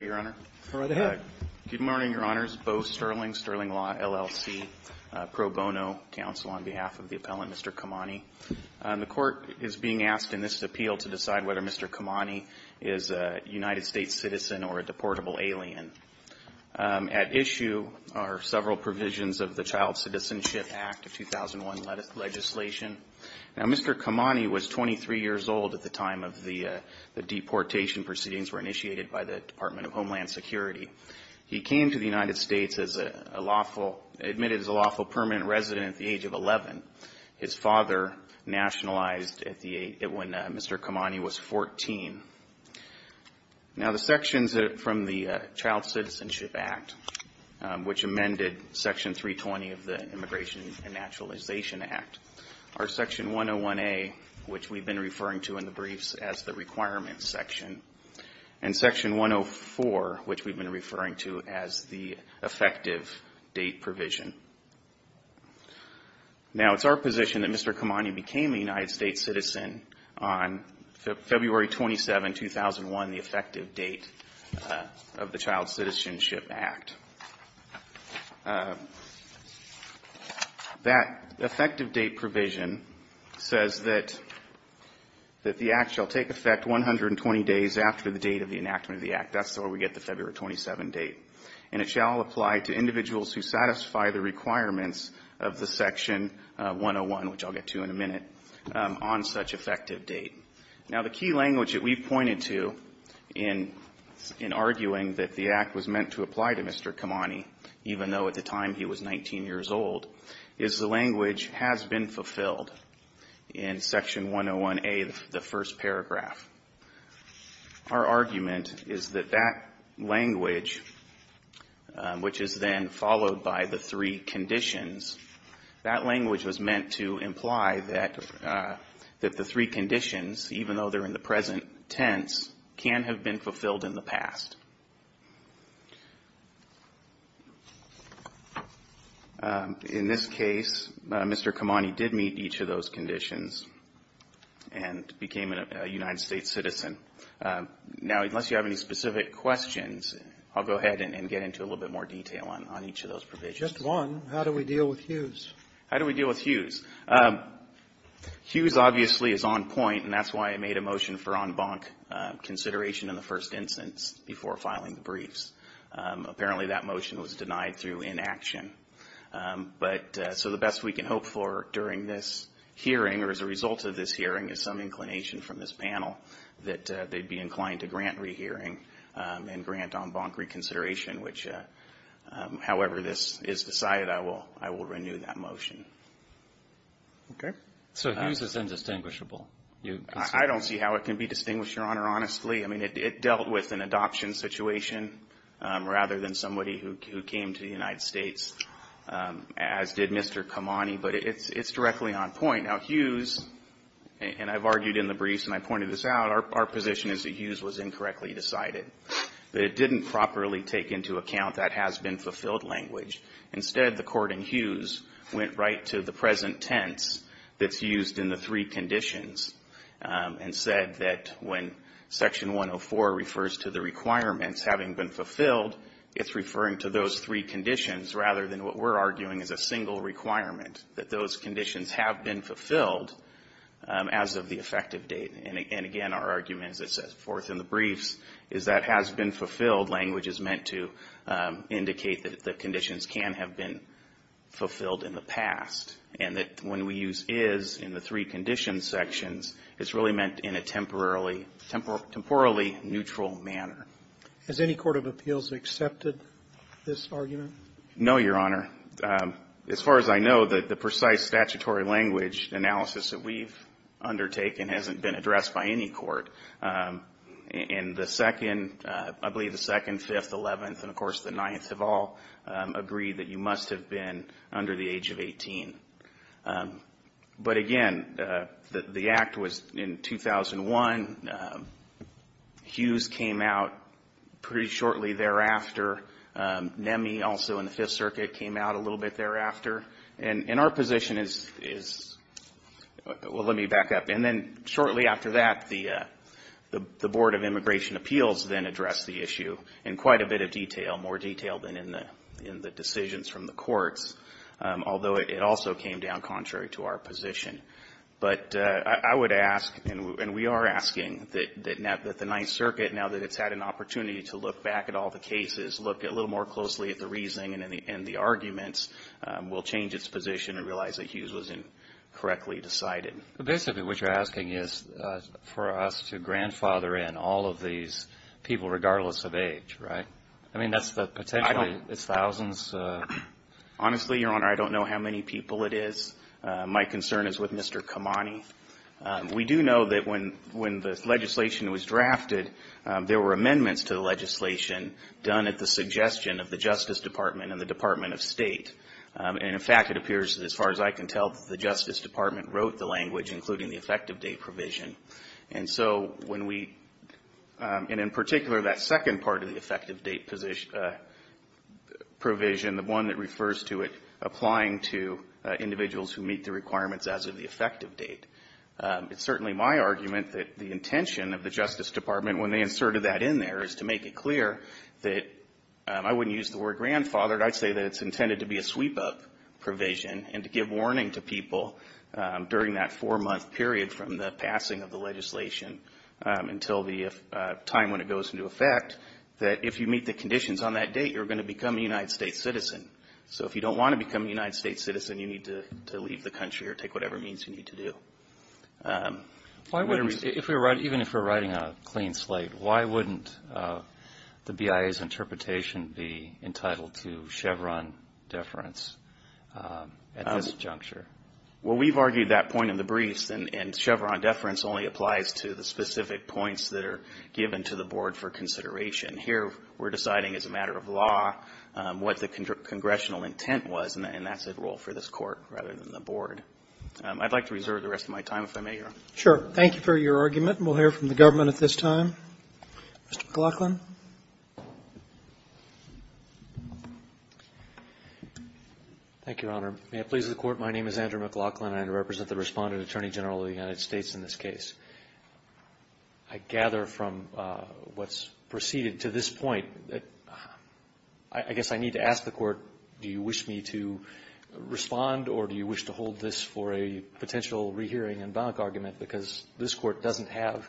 Good morning, Your Honors. Bo Sterling, Sterling Law, LLC, Pro Bono Council, on behalf of the appellant, Mr. Kamani. The Court is being asked in this appeal to decide whether Mr. Kamani is a United States citizen or a deportable alien. At issue are several provisions of the Child Citizenship Act of 2001 legislation. Now, Mr. Kamani was 23 years old at the time of the deportation proceedings were initiated by the Department of Homeland Security. He came to the United States as a lawful, admitted as a lawful permanent resident at the age of 11. His father nationalized when Mr. Kamani was 14. Now, the sections from the Child Citizenship Act, which amended Section 320 of the Immigration and Naturalization Act, are Section 101A, which we've been referring to in the briefs as the requirements section, and Section 104, which we've been referring to as the effective date provision. Now, it's our position that Mr. Kamani became a United States citizen on February 27, 2001, the effective date of the Child Citizenship Act. That effective date provision says that the Act shall take effect 120 days after the date of the enactment of the Act. That's where we get the February 27 date. And it shall apply to individuals who satisfy the requirements of the Section 101, which I'll get to in a minute, on such effective date. Now, the key language that we've pointed to in arguing that the Act was meant to apply to Mr. Kamani, even though at the time he was 19 years old, is the language has been fulfilled in Section 101A, the first paragraph. Our argument is that that language, which is then followed by the three conditions, that language was meant to imply that the three conditions, even though they're in the present tense, can have been fulfilled in the past. In this case, Mr. Kamani did meet each of those conditions and became a United States citizen. Now, unless you have any specific questions, I'll go ahead and get into a little bit more detail on each of those provisions. Just one. How do we deal with Hughes? How do we deal with Hughes? Hughes, obviously, is on point, and that's why I made a motion for en banc consideration in the first instance before filing the briefs. Apparently, that motion was denied through inaction. But so the best we can hope for during this hearing, or as a result of this hearing, is some inclination from this panel that they'd be inclined to grant rehearing and grant en banc reconsideration, which, however, this is not the case. And so I just decided I will renew that motion. So Hughes is indistinguishable? I don't see how it can be distinguished, Your Honor, honestly. I mean, it dealt with an adoption situation rather than somebody who came to the United States, as did Mr. Kamani. But it's directly on point. Now, Hughes, and I've argued in the briefs and I pointed this out, our position is that Hughes was incorrectly decided. That it didn't properly take into account that has-been-fulfilled language. Instead, the court in Hughes went right to the present tense that's used in the three conditions and said that when Section 104 refers to the requirements having been fulfilled, it's referring to those three conditions rather than what we're arguing is a single requirement, that those conditions have been fulfilled. As of the effective date. And again, our argument, as it says forth in the briefs, is that has-been-fulfilled language is meant to indicate that the conditions can have been fulfilled in the past, and that when we use is in the three conditions sections, it's really meant in a temporally neutral manner. Has any court of appeals accepted this argument? No, Your Honor. As far as I know, the precise statutory language analysis that we've undertaken hasn't been addressed by any court. And the second, I believe the second, fifth, eleventh, and of course the ninth have all agreed that you must have been under the age of 18. But again, the act was in 2001. Hughes came out pretty shortly thereafter. Nemi also in the Fifth Circuit came out a little bit thereafter. And our position is, well, let me back up. And then shortly after that, the Board of Immigration Appeals then addressed the issue in quite a bit of detail, more detail than in the decisions from the courts, although it also came down contrary to our position. But I would ask, and we are asking, that the Ninth Circuit, now that it's had an opportunity to look back at all the cases, look at all the cases, look a little more closely at the reasoning and the arguments, will change its position and realize that Hughes wasn't correctly decided. Basically, what you're asking is for us to grandfather in all of these people, regardless of age, right? I mean, that's the potential. It's thousands. Honestly, Your Honor, I don't know how many people it is. My concern is with Mr. Kamani. We do know that when the legislation was drafted, there were amendments to the legislation done at the suggestion of the Justice Department and the Department of State. And, in fact, it appears that, as far as I can tell, the Justice Department wrote the language, including the effective date provision. And so when we, and in particular, that second part of the effective date provision, the one that refers to it applying to individuals who meet the requirements as of the effective date, it's certainly my argument that the intention of the Justice Department, when they inserted that in there, is to make it clear that, I wouldn't use the word grandfathered, I'd say that it's intended to be a sweep-up provision and to give warning to people during that four-month period from the passing of the legislation until the time when it goes into effect, that if you meet the conditions on that date, you're going to become a United States citizen. So if you don't want to become a United States citizen, you need to leave the country or take whatever means you need to do. Why wouldn't, even if we're writing a clean slate, why wouldn't the BIA's interpretation be entitled to Chevron deference at this juncture? Well, we've argued that point in the briefs, and Chevron deference only applies to the specific points that are given to the board for the purpose of the case, and that's why we saw what the congressional intent was, and that's a rule for this Court rather than the board. I'd like to reserve the rest of my time, if I may, Your Honor. Roberts. Sure. Thank you for your argument, and we'll hear from the government at this time. Mr. McLaughlin. Thank you, Your Honor. May it please the Court, my name is Andrew McLaughlin, and I represent the Respondent Attorney General of the United States in this case. I gather from what's preceded to this point that I guess I need to ask the Court, do you wish me to respond, or do you wish to hold this for a potential rehearing and bonk argument, because this Court doesn't have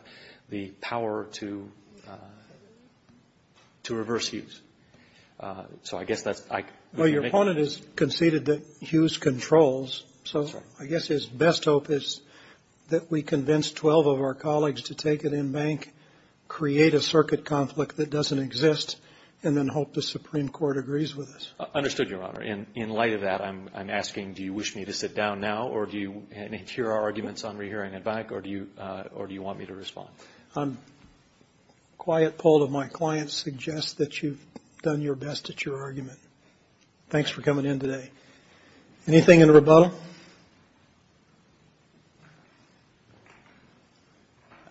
the power to reverse Hughes. So I guess that's my question. Do you wish me to sit down now and hear our arguments on rehearing and bonk, or do you want me to respond? A quiet poll of my clients suggests that you've done your best at your argument. Thanks for coming in today. Anything in rebuttal?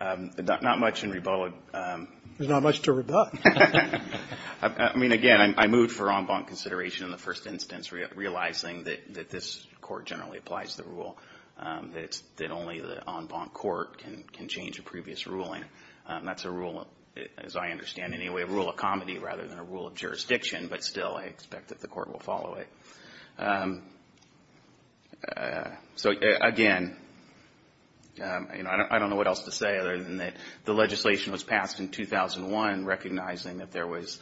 Not much in rebuttal. There's not much to rebut. I mean, again, I moved for en banc consideration in the first instance, realizing that this Court generally applies the rule, that only the en banc Court can change a previous ruling. That's a rule, as I understand it, a rule of comedy rather than a rule of jurisdiction, but still I expect that the Court will follow it. So, again, I don't know what else to say other than that the legislation was passed in 2001, recognizing that there was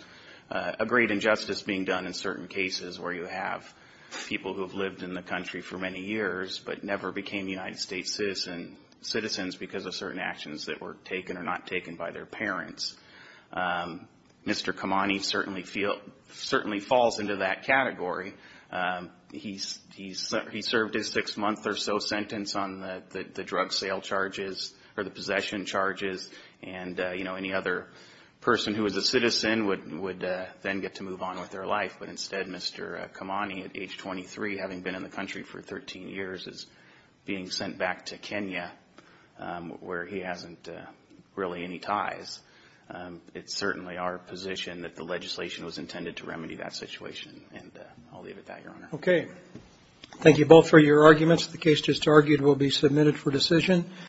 a great injustice being done in certain cases where you have people who have lived in the country for many years but never became United States citizens because of certain actions that were taken or not taken by their parents. Mr. Kamani certainly falls into that category. He served his six-month or so sentence on the drug sale charges, or the possession charges, and any other person who was a citizen would then get to move on with their life. But instead, Mr. Kamani, at age 23, having been in the country for 13 years, is being sent back to Kenya, where he hasn't really any ties. It's certainly our position that the legislation was intended to remedy that situation, and I'll leave it at that, Your Honor. Thank you both for your arguments.